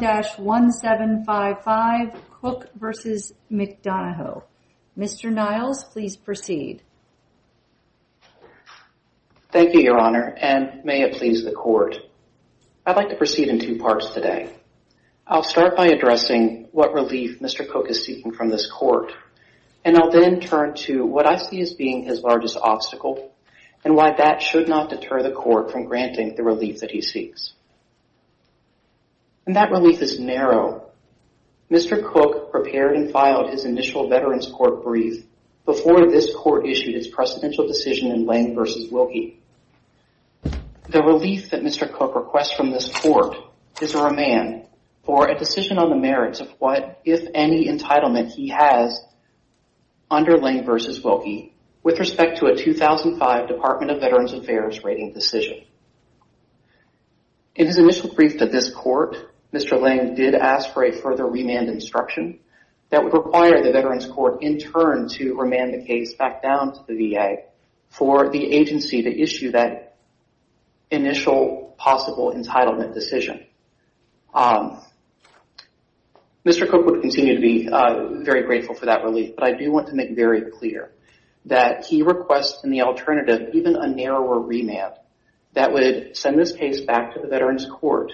1-1755 Cook v. McDonough. Mr. Niles, please proceed. Thank you, Your Honor, and may it please the Court. I'd like to proceed in two parts today. I'll start by addressing what relief Mr. Cook is seeking from this Court, and I'll then turn to what I see as being his largest obstacle and why that should not deter the Court from Mr. Cook prepared and filed his initial Veterans Court brief before this Court issued its precedential decision in Lane v. Wilkie. The relief that Mr. Cook requests from this Court is a remand for a decision on the merits of what, if any, entitlement he has under Lane v. Wilkie with respect to a 2005 Department of Veterans Affairs rating decision. In his initial brief to this point, Lane did ask for a further remand instruction that would require the Veterans Court in turn to remand the case back down to the VA for the agency to issue that initial possible entitlement decision. Mr. Cook would continue to be very grateful for that relief, but I do want to make very clear that he requests in the alternative even a narrower remand that would send this case back to the Veterans Court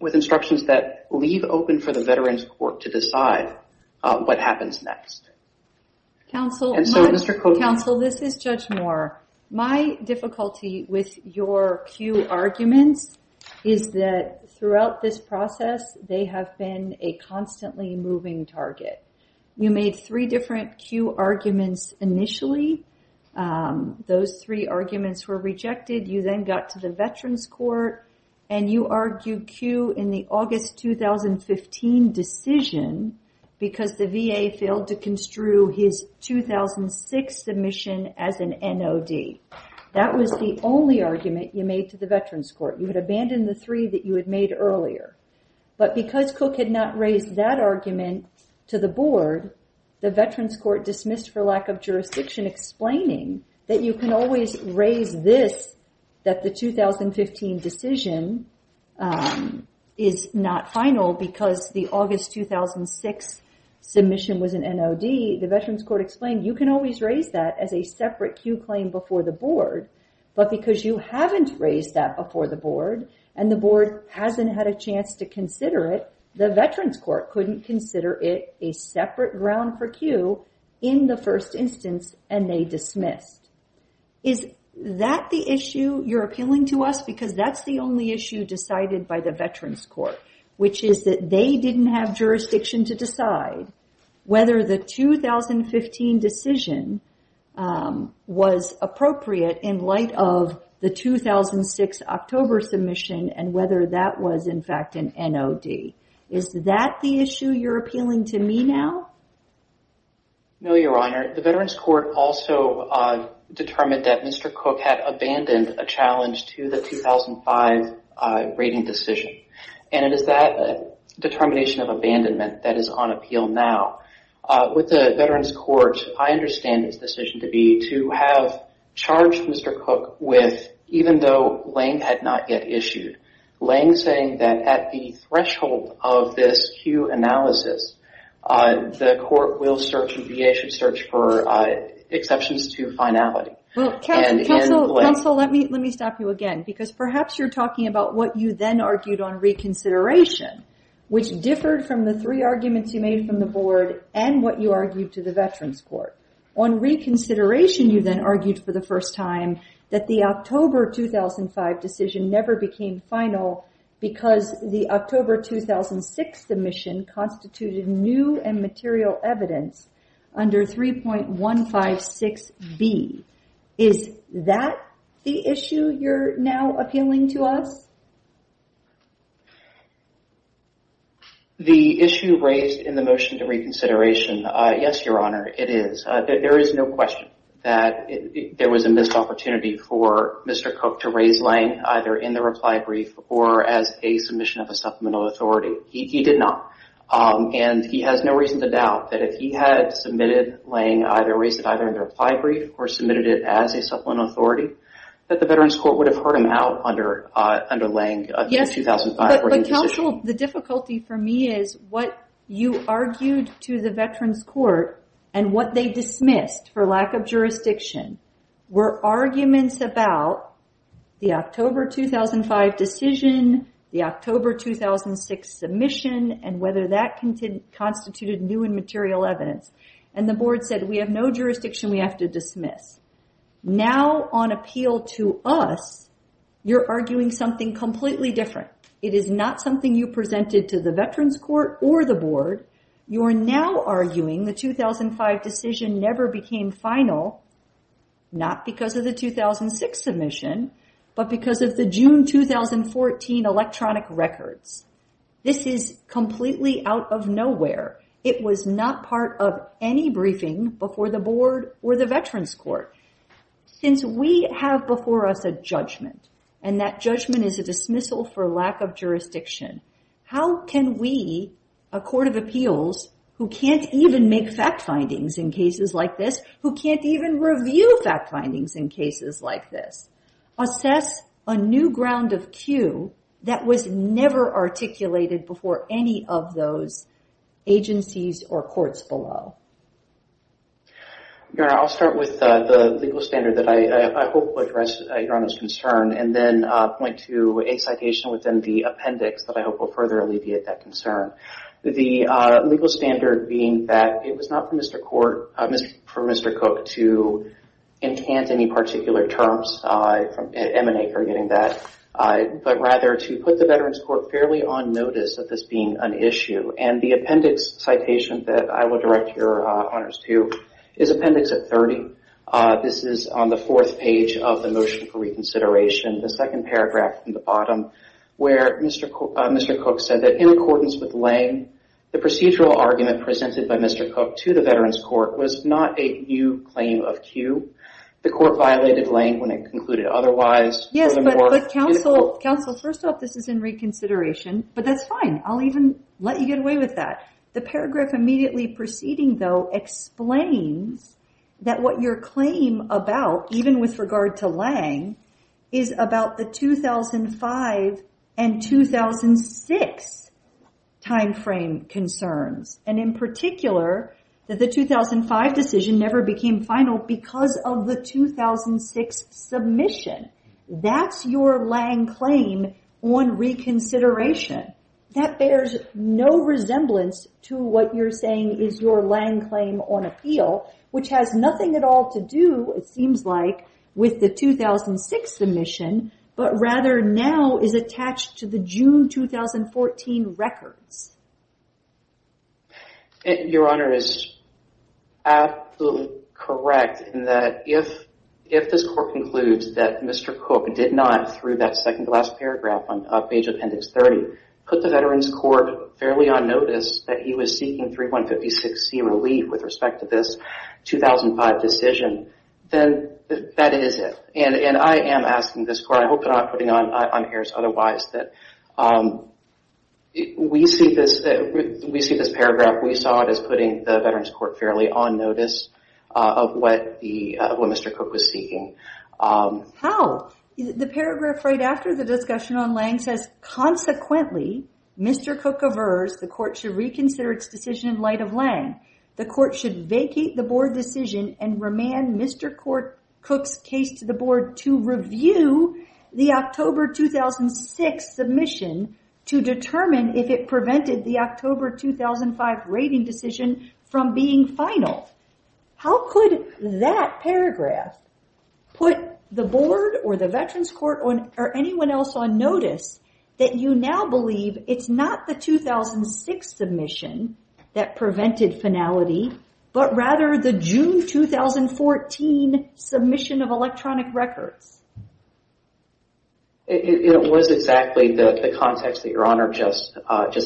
with instructions that leave open for the Veterans Court to decide what happens next. Counsel, this is Judge Moore. My difficulty with your cue arguments is that throughout this process they have been a constantly moving target. You made three different cue arguments initially. Those three arguments were rejected. You then got to the Veterans Court and you argued cue in the August 2015 decision because the VA failed to construe his 2006 submission as an NOD. That was the only argument you made to the Veterans Court. You had abandoned the three that you had made earlier, but because Cook had not raised that argument to the Board, the Veterans Court dismissed for lack of jurisdiction explaining that you can always raise this, that the 2015 decision is not final because the August 2006 submission was an NOD. The Veterans Court explained you can always raise that as a separate cue claim before the Board, but because you haven't raised that before the Board and the Board hasn't had a chance to round for cue in the first instance and they dismissed. Is that the issue you're appealing to us because that's the only issue decided by the Veterans Court, which is that they didn't have jurisdiction to decide whether the 2015 decision was appropriate in light of the 2006 October submission and whether that was in fact an NOD. Is that the issue you're appealing to me now? No, Your Honor. The Veterans Court also determined that Mr. Cook had abandoned a challenge to the 2005 rating decision and it is that determination of abandonment that is on appeal now. With the Veterans Court, I understand its decision to be to have charged Mr. Cook with, even though Lange's saying that at the threshold of this cue analysis, the Court will search for exceptions to finality. Counsel, let me stop you again because perhaps you're talking about what you then argued on reconsideration, which differed from the three arguments you made from the Board and what you argued to the Veterans Court. On reconsideration, you then argued for the first time that the final because the October 2006 submission constituted new and material evidence under 3.156B. Is that the issue you're now appealing to us? The issue raised in the motion to reconsideration, yes, Your Honor, it is. There is no question that there was a missed opportunity for Mr. Cook to raise Lange either in the reply brief or as a submission of a supplemental authority. He did not. He has no reason to doubt that if he had submitted Lange either in the reply brief or submitted it as a supplemental authority, that the Veterans Court would have heard him out under Lange of the 2005 rating decision. The difficulty for me is what you argued to the Veterans Court and what they dismissed for lack jurisdiction were arguments about the October 2005 decision, the October 2006 submission, and whether that constituted new and material evidence. The Board said we have no jurisdiction we have to dismiss. Now on appeal to us, you're arguing something completely different. It is not something you presented to the Veterans Court or the Board. You are now arguing the 2005 decision never became final, not because of the 2006 submission, but because of the June 2014 electronic records. This is completely out of nowhere. It was not part of any briefing before the Board or the Veterans Court. Since we have before us a judgment, and that judgment is a dismissal for who can't even review fact findings in cases like this. Assess a new ground of cue that was never articulated before any of those agencies or courts below. Your Honor, I'll start with the legal standard that I hope would address Your Honor's concern and then point to a citation within the appendix that I hope will further alleviate that concern. The legal standard being that it was not for Mr. Cook to enchant any particular terms, but rather to put the Veterans Court fairly on notice of this being an issue. The appendix citation that I will direct Your Honors to is appendix 30. This is on the fourth page of the motion for reconsideration, the second paragraph from the bottom where Mr. Cook said that in accordance with Lange, the procedural argument presented by Mr. Cook to the Veterans Court was not a new claim of cue. The court violated Lange when it concluded otherwise. Yes, but counsel, first off, this is in reconsideration, but that's fine. I'll even let you get away with that. The paragraph immediately preceding though explains that your claim about, even with regard to Lange, is about the 2005 and 2006 time frame concerns. In particular, the 2005 decision never became final because of the 2006 submission. That's your Lange claim on reconsideration. That bears no resemblance to what you're saying is your Lange on appeal, which has nothing at all to do, it seems like, with the 2006 submission, but rather now is attached to the June 2014 records. Your Honor is absolutely correct in that if this court concludes that Mr. Cook did not, through that second to last paragraph on page appendix 30, put the Veterans Court fairly on with respect to this 2005 decision, then that is it. I am asking this court, I hope you're not putting on airs otherwise, that we see this paragraph, we saw it as putting the Veterans Court fairly on notice of what Mr. Cook was seeking. How? The paragraph right after the discussion on Lange says, consequently, Mr. Cook aversed, the court should reconsider its decision in light of Lange. The court should vacate the board decision and remand Mr. Cook's case to the board to review the October 2006 submission to determine if it prevented the October 2005 rating decision from being final. How could that paragraph put the board or the Veterans Court or anyone else on notice that you now believe it's not the 2006 submission that prevented finality, but rather the June 2014 submission of electronic records? It was exactly the context that Your Honor just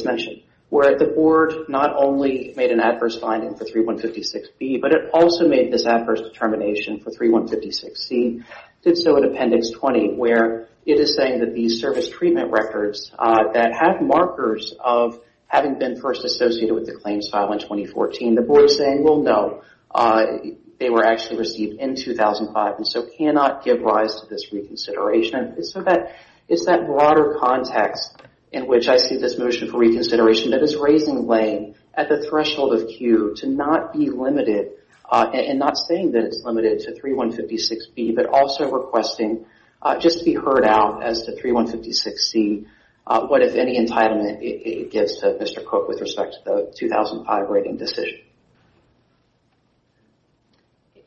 mentioned, where the board not only made an adverse finding for 3156B, but it also made this adverse determination for 3156C, did so in it is saying that these service treatment records that have markers of having been first associated with the claims file in 2014, the board is saying, well no, they were actually received in 2005 and so cannot give rise to this reconsideration. It's that broader context in which I see this motion for reconsideration that is raising Lange at the threshold of Q to not be limited and not saying that it's limited to 3156B, but also requesting just to be heard out as to 3156C, what, if any, entitlement it gives to Mr. Cook with respect to the 2005 rating decision.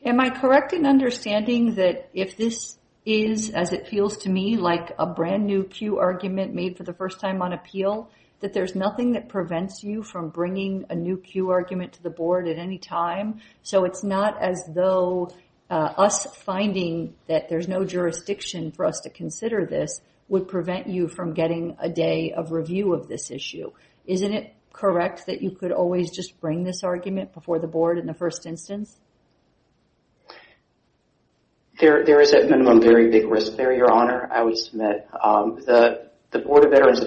Am I correct in understanding that if this is, as it feels to me, like a brand new Q argument made for the first time on appeal, that there's nothing that prevents you from bringing a new Q argument to the board at any time? So it's not as though us finding that there's no jurisdiction for us to consider this would prevent you from getting a day of review of this issue. Isn't it correct that you could always just bring this argument before the board in the first instance? There is a minimum very big risk there, Your Honor, I would submit. The Board of Veterans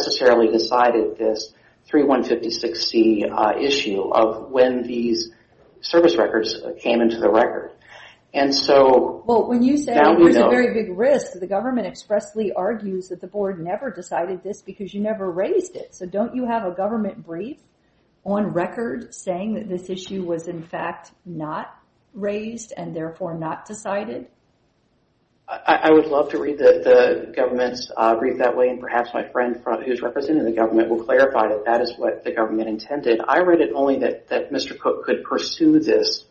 never decided this 3156C issue of when these service records came into the record. Well, when you say there's a very big risk, the government expressly argues that the board never decided this because you never raised it. So don't you have a government brief on record saying that this issue was in fact not raised and therefore not decided? I would love to read the government's brief that way and perhaps my friend who's representing the government will clarify that that is what the government intended. I read it only that Mr. Cook could pursue this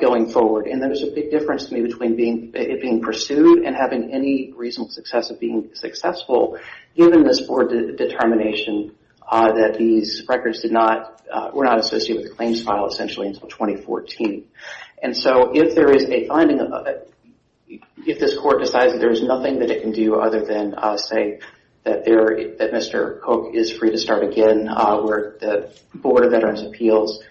going forward and there's a big difference to me between it being pursued and having any reasonable success of being successful given this board determination that these records were not associated with the claims file essentially until 2014. And so if there is a finding of it, if this court decides that there is nothing that it can do other than say that Mr. Cook is free to start again where the Board of Veterans Appeals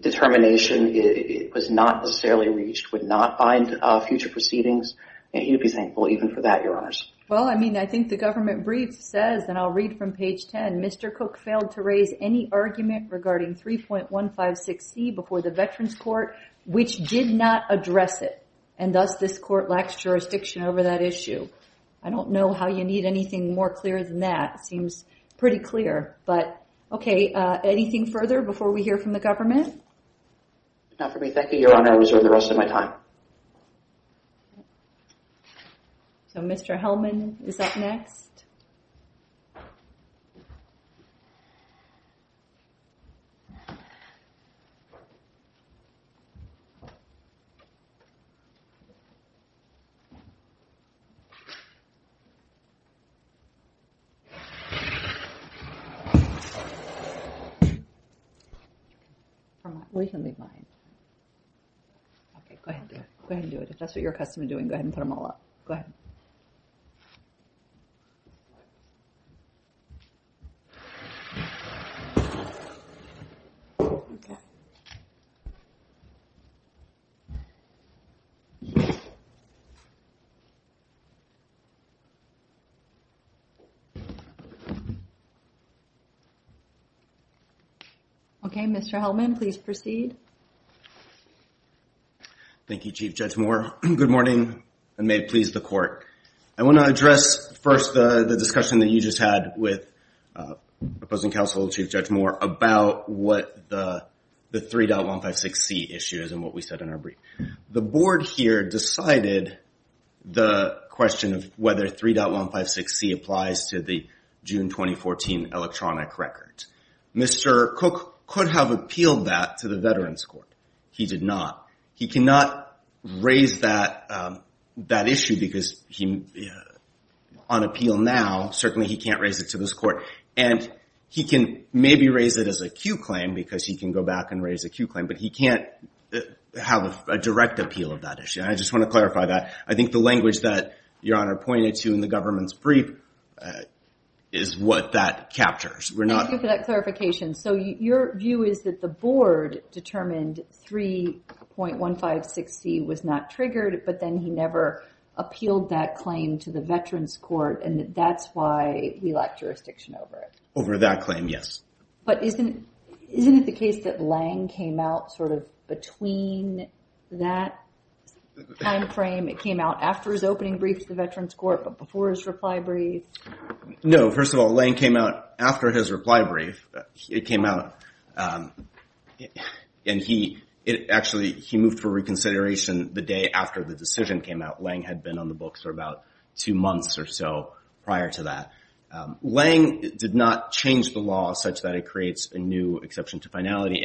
determination was not necessarily reached, would not bind future proceedings, he'd be thankful even for that, Your Honors. Well, I mean, I think the government brief says, and I'll read from page 10, Mr. Cook failed to raise any argument regarding 3.156C before the Veterans Court, which did not address it. And thus this court lacks jurisdiction over that issue. I don't know how you need anything more clear than that. It seems pretty clear, but okay. Anything further before we hear from the government? Not for me, thank you, Your Honor. I'll reserve the rest of my time. So Mr. Hellman is up next. Okay, go ahead and do it. If that's what you're accustomed to doing, go ahead and put them all up. Go ahead. Okay, Mr. Hellman, please proceed. Thank you, Chief Judge Moore. Good morning and may it please the court. I want to address first the discussion that you just had with opposing counsel, Chief Judge Moore, about what the 3.156C issue is and what we said in our brief. The board here decided the question of whether 3.156C applies to the June 2014 electronic records. Mr. Cook could have appealed that to the Veterans Court. He did not. He cannot raise that issue because on appeal now, certainly he can't raise it to this court. And he can maybe raise it as a Q claim because he can go back and raise a Q claim, but he can't have a direct appeal of that issue. And I just want to clarify that. I think the is what that captures. Thank you for that clarification. So your view is that the board determined 3.156C was not triggered, but then he never appealed that claim to the Veterans Court and that's why we lack jurisdiction over it. Over that claim, yes. But isn't it the case that Lange came out sort of between that time frame? It came out after his opening brief to the Veterans Court. No, first of all, Lange came out after his reply brief. It came out and he actually moved for reconsideration the day after the decision came out. Lange had been on the books for about two months or so prior to that. Lange did not change the law such that it creates a new exception to finality.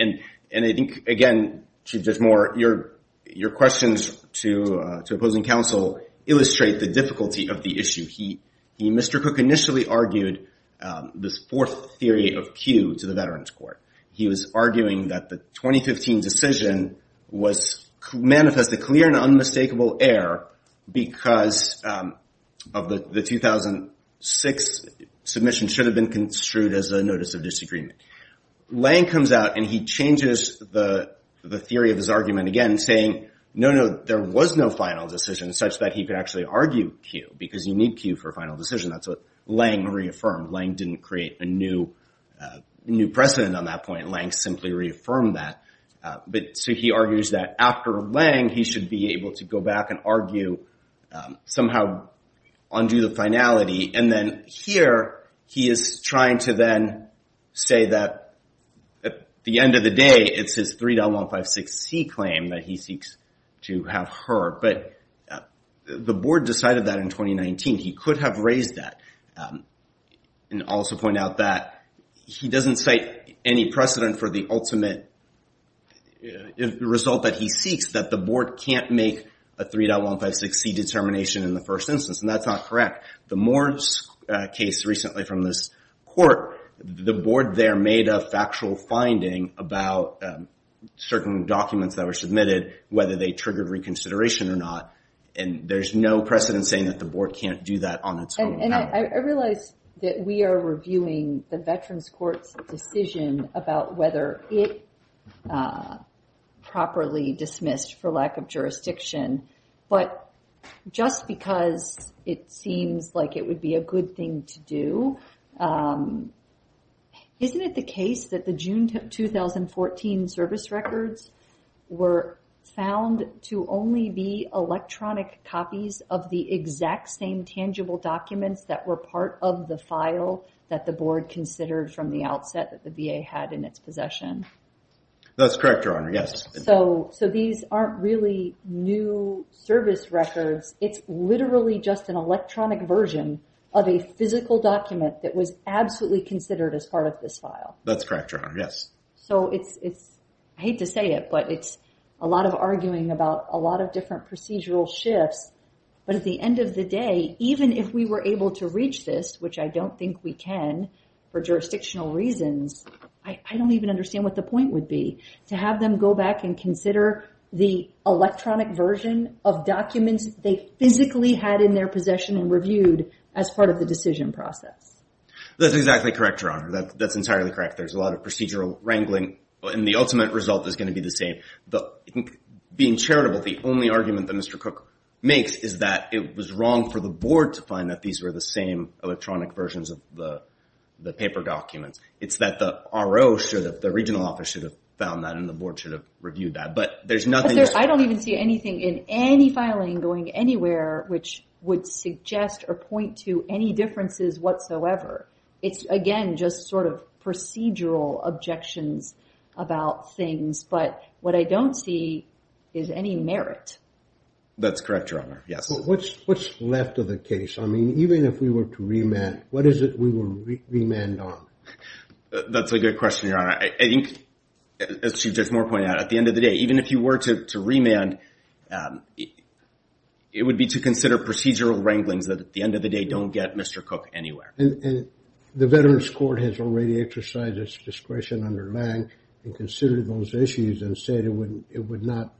And I think, again, Chief Judge Moore, your questions to opposing counsel illustrate the Mr. Cook initially argued this fourth theory of Q to the Veterans Court. He was arguing that the 2015 decision was manifested clear and unmistakable error because of the 2006 submission should have been construed as a notice of disagreement. Lange comes out and he changes the theory of his argument again saying, no, no, there was no final decision such that he could actually argue Q because you need Q for final decision. That's what Lange reaffirmed. Lange didn't create a new precedent on that point. Lange simply reaffirmed that. So he argues that after Lange, he should be able to go back and argue somehow undo the finality. And then here, he is trying to then say that at the end of the day, it's his 3.156C claim that he seeks to have heard. But the board decided that in 2019. He could have raised that and also point out that he doesn't cite any precedent for the ultimate result that he seeks that the board can't make a 3.156C determination in the first instance. And that's not correct. The Moore's case recently from this court, the board there made a factual finding about certain documents that were submitted, whether they triggered reconsideration or not. And there's no precedent saying that the board can't do that on its own. And I realize that we are reviewing the Veterans Court's decision about whether it properly dismissed for lack of jurisdiction. But just because it seems like it would be a good thing to do. Isn't it the case that the June 2014 service records were found to only be electronic copies of the exact same tangible documents that were part of the file that the board considered from the outset that the VA had in its possession? That's correct, Your Honor. Yes. So these aren't really new service records. It's literally just an electronic version of a physical document that was absolutely considered as part of this file. That's correct, Your Honor. Yes. So it's, I hate to say it, but it's a lot of arguing about a lot of different procedural shifts. But at the end of the day, even if we were able to reach this, which I don't think we can for jurisdictional reasons, I don't even understand what the point would be to have them go back and consider the electronic version of documents they physically had in their possession and reviewed as part of the decision process. That's exactly correct, Your Honor. That's entirely correct. There's a lot of procedural wrangling and the ultimate result is going to be the same. But being charitable, the only argument that Mr. Cook makes is that it was wrong for the board to find that these were the same electronic versions of the paper documents. It's that the RO, the regional office should have found that and the board should have reviewed that. But there's nothing... I don't even see anything in any filing going anywhere which would suggest or point to any differences whatsoever. It's, again, just sort of procedural objections about things. But what I don't see is any merit. That's correct, Your Honor. Yes. What's left of the case? I mean, even if we were to remand, what is it we will remand on? That's a good question, Your Honor. I think, as Chief Judge Moore pointed out, at the end of the day, even if you were to remand, it would be to consider procedural wranglings that at the end of the day don't get Mr. Cook anywhere. And the Veterans Court has already exercised its discretion under Lange and considered those issues and said it would not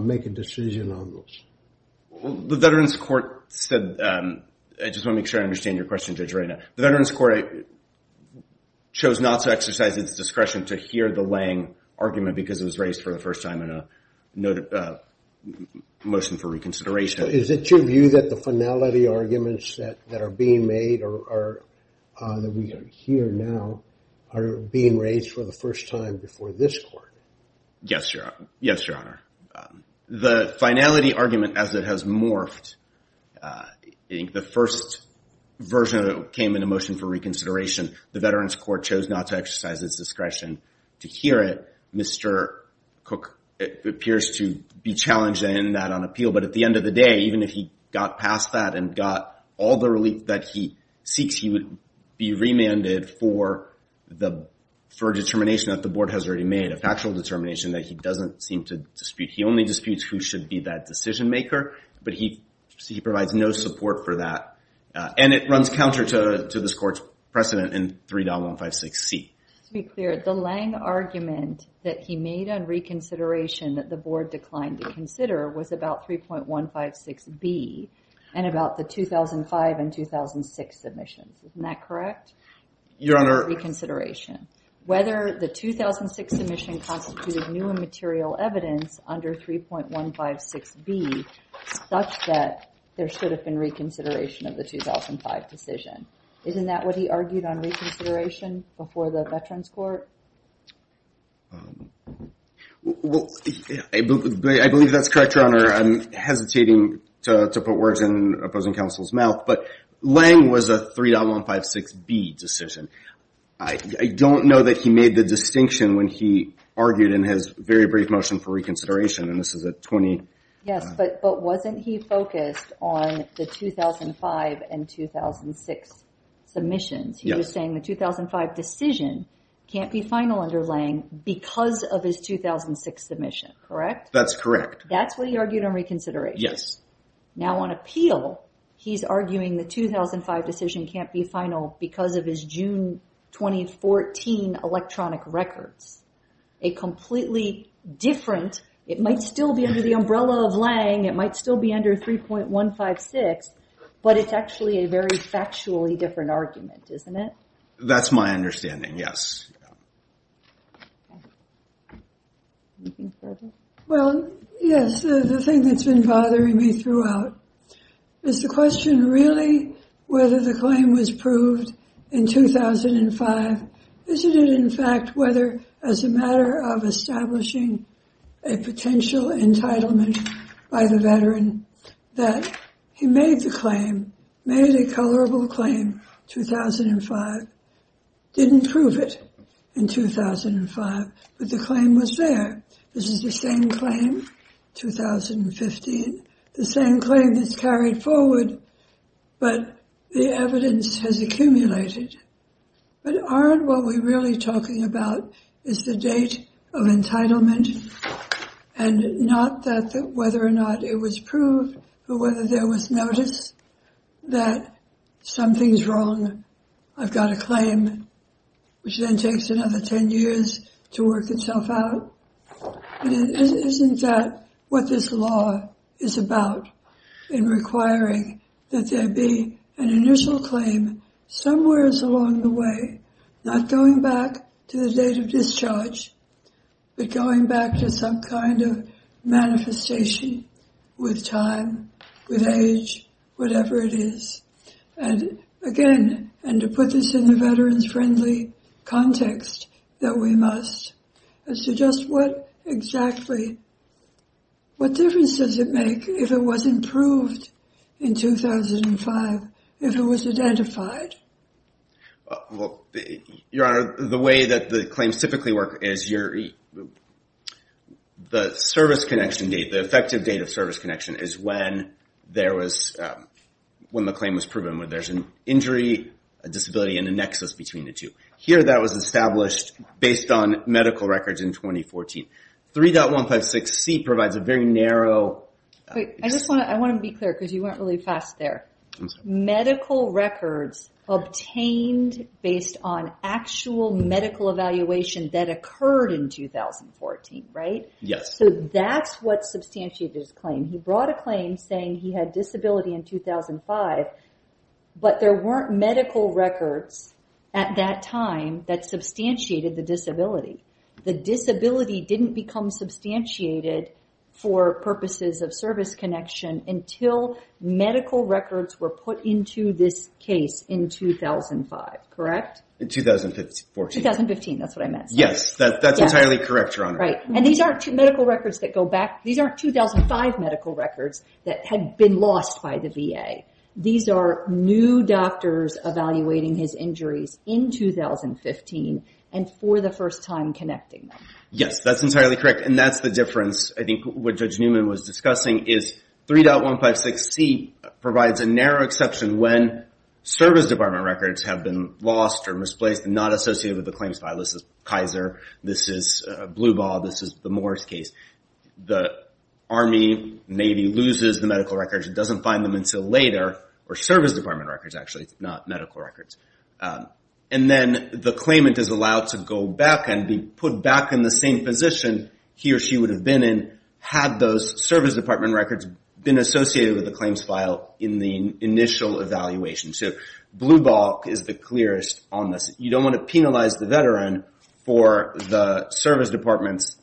make a decision on those. The Veterans Court said... I just want to make sure I understand your question, Judge Reyna. The Veterans Court chose not to exercise its discretion to hear the Lange argument because it was raised for the first time in a motion for reconsideration. Is it your view that the finality arguments that are being made or that we hear now are being raised for the first time before this court? Yes, Your Honor. Yes, Your Honor. The finality argument as it has morphed, I think the first version of it came in a motion for reconsideration. The Veterans Court chose not to exercise its discretion to hear it. Mr. Cook appears to be challenged in that on appeal. But at the end of the day, even if he got past that and got all the relief that he seeks, he would be remanded for a determination that the board has already made, a factual determination that he doesn't seem to dispute. He only disputes who should be that decision maker. But he provides no support for that. And it runs counter to this court's precedent in 3.156C. To be clear, the Lange argument that he made on reconsideration that the board declined to Your Honor. reconsideration. Whether the 2006 submission constituted new and material evidence under 3.156B such that there should have been reconsideration of the 2005 decision. Isn't that what he argued on reconsideration before the Veterans Court? Well, I believe that's correct, Your Honor. I'm hesitating to put words in opposing counsel's Lange was a 3.156B decision. I don't know that he made the distinction when he argued in his very brief motion for reconsideration. And this is a 20... Yes, but wasn't he focused on the 2005 and 2006 submissions? He was saying the 2005 decision can't be final under Lange because of his 2006 submission, correct? That's correct. That's what he argued on reconsideration? Yes. Now on appeal, he's arguing the 2005 decision can't be final because of his June 2014 electronic records. A completely different, it might still be under the umbrella of Lange, it might still be under 3.156, but it's actually a very factually different argument, isn't it? That's my understanding, yes. Well, yes, the thing that's been bothering me throughout is the question, really, whether the claim was proved in 2005? Isn't it, in fact, whether as a matter of establishing a potential entitlement by the veteran that he made the claim, made a colorable claim, 2005, didn't prove it in 2005, but the claim was there. This is the same claim, 2015, the same claim that's carried forward, but the evidence has accumulated. But aren't what we're really talking about is the date of entitlement and not that whether or not it was proved or whether there was notice that something's wrong, I've got a claim, which then takes another 10 years to work itself out? Isn't that what this law is about, in requiring that there be an initial claim somewhere along the way, not going back to the date of discharge, but going back to some kind of manifestation with time, with age, whatever it is? And again, and to put this in the veterans-friendly context that we must, as to just what exactly, what difference does it make if it was improved in 2005, if it was identified? Well, Your Honor, the way that the claims typically work is the service connection date, the effective date of service connection is when the claim was proven, whether there's an injury, a disability, and a nexus between the two. Here, that was established based on medical records in 2014. 3.156C provides a very narrow- Wait, I just want to be clear, because you obtained based on actual medical evaluation that occurred in 2014, right? Yes. So that's what substantiated his claim. He brought a claim saying he had disability in 2005, but there weren't medical records at that time that substantiated the disability. The disability didn't become substantiated for purposes of service connection until medical records were put into this case in 2005, correct? In 2014. 2015, that's what I meant. Yes, that's entirely correct, Your Honor. Right. And these aren't two medical records that go back, these aren't 2005 medical records that had been lost by the VA. These are new doctors evaluating his injuries in 2015, and for the first time connecting them. Yes, that's entirely correct. And that's the difference, I think, with what Judge Newman was discussing, is 3.156C provides a narrow exception when service department records have been lost or misplaced and not associated with the claims file. This is Kaiser, this is Blue Ball, this is the Morris case. The Army, Navy loses the medical records and doesn't find them until later, or service department records, actually, not medical records. And then the claimant is allowed to go back and be put back in the same position he or had those service department records been associated with the claims file in the initial evaluation. So Blue Ball is the clearest on this. You don't want to penalize the veteran for the service department's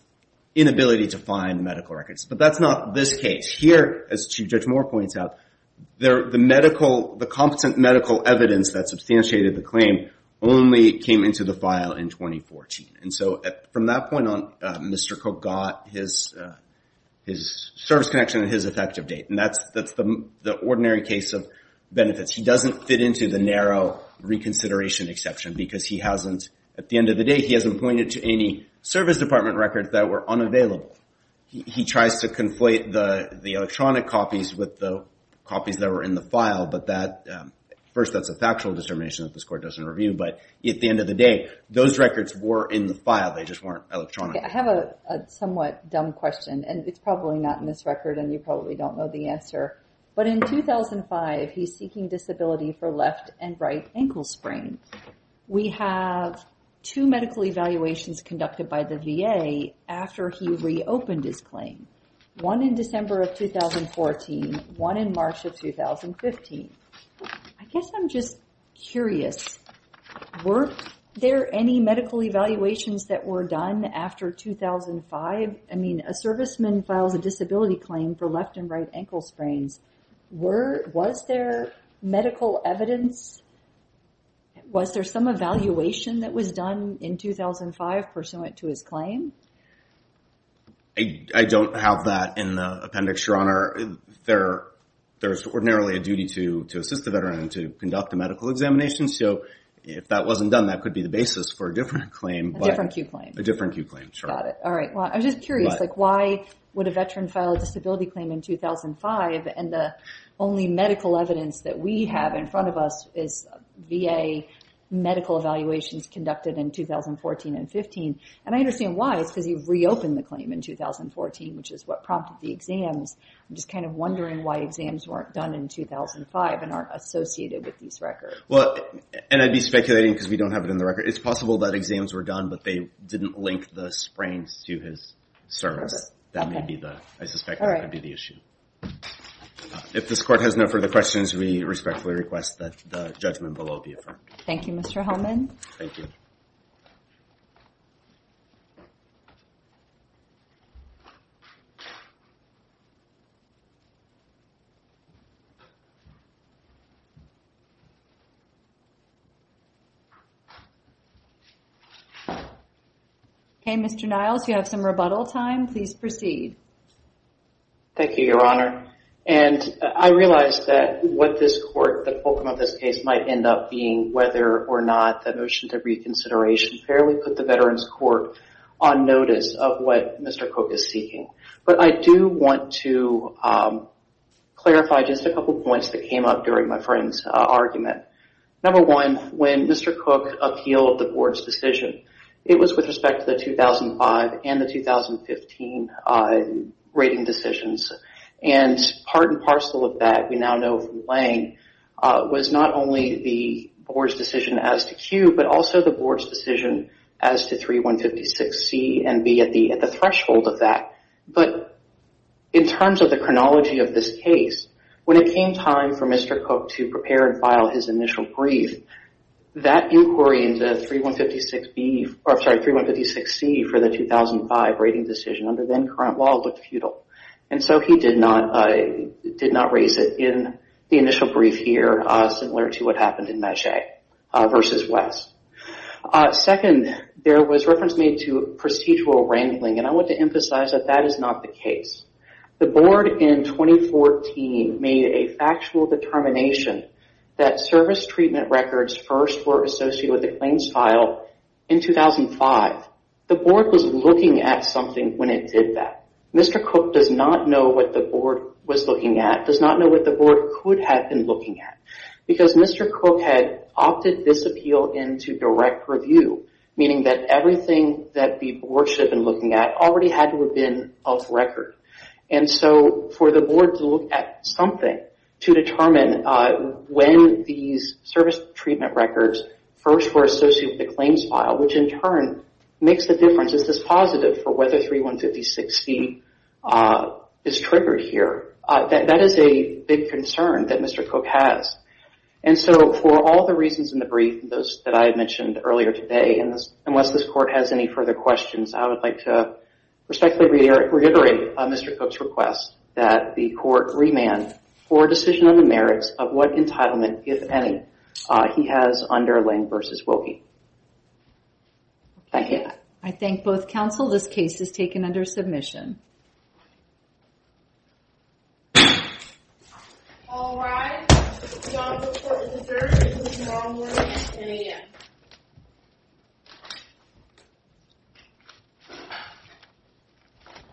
inability to find medical records. But that's not this case. Here, as Chief Judge Moore points out, the competent medical evidence that substantiated the claim only came into the file in 2014. And so from that point on, Mr. Cook got his service connection and his effective date. And that's the ordinary case of benefits. He doesn't fit into the narrow reconsideration exception because he hasn't, at the end of the day, he hasn't pointed to any service department records that were unavailable. He tries to conflate the electronic copies with the copies that were in the file, but that, first, that's a factual determination that this is the end of the day. Those records were in the file. They just weren't electronic. I have a somewhat dumb question, and it's probably not in this record, and you probably don't know the answer. But in 2005, he's seeking disability for left and right ankle sprains. We have two medical evaluations conducted by the VA after he reopened his claim. One in December of 2014, one in March of 2015. I guess I'm just curious, were there any medical evaluations that were done after 2005? I mean, a serviceman files a disability claim for left and right ankle sprains. Was there medical evidence? Was there some evaluation that was done in 2005 pursuant to his claim? There's ordinarily a duty to assist the veteran and to conduct a medical examination. So, if that wasn't done, that could be the basis for a different claim. A different Q claim. A different Q claim, sure. Got it. All right. Well, I'm just curious, why would a veteran file a disability claim in 2005, and the only medical evidence that we have in front of us is VA medical evaluations conducted in 2014 and 15? I understand why. It's because you've reopened the claim in 2014, which is what I'm asking. I'm just wondering why exams weren't done in 2005 and aren't associated with these records. Well, and I'd be speculating because we don't have it in the record. It's possible that exams were done, but they didn't link the sprains to his service. That may be the, I suspect that could be the issue. If this court has no further questions, we respectfully request that the judgment below be affirmed. Thank you, Mr. Hellman. Thank you. Okay, Mr. Niles, you have some rebuttal time. Please proceed. Thank you, Your Honor. And I realize that what this court, the focus of this case might end up being whether or not the motion to reconsideration fairly put the Veterans Court on notice of what Mr. Cook is seeking. But I do want to clarify just a couple of points that came up during my friend's argument. Number one, when Mr. Cook appealed the board's decision, it was with respect to the 2005 and the 2015 rating decisions. And part and parcel of that, we now know from board's decision as to Q, but also the board's decision as to 3156C and B at the threshold of that. But in terms of the chronology of this case, when it came time for Mr. Cook to prepare and file his initial brief, that inquiry into 3156B, I'm sorry, 3156C for the 2005 rating decision under then current law looked futile. And so he did not raise it in the initial brief here, similar to what happened in Meche versus West. Second, there was reference made to procedural wrangling, and I want to emphasize that that is not the case. The board in 2014 made a factual determination that service treatment records first were associated with the claims file in 2005. The board was looking at something when it did that. Mr. Cook does not know what the board was looking at, does not know what the board could have been looking at. Because Mr. Cook had opted this appeal into direct review, meaning that everything that the board should have been looking at already had to have been off record. And so for the board to look at something to determine when these service treatment records first were associated with the claims file, which in turn makes the difference, is this positive for whether 3156B is triggered here. That is a big concern that Mr. Cook has. And so for all the reasons in the brief, those that I mentioned earlier today, and unless this court has any further questions, I would like to respectfully reiterate Mr. Cook's request that the court remand for decision on the merits of what entitlement, if any, he has under Lange versus Wilkie. Thank you. I thank both counsel. This case is taken under submission.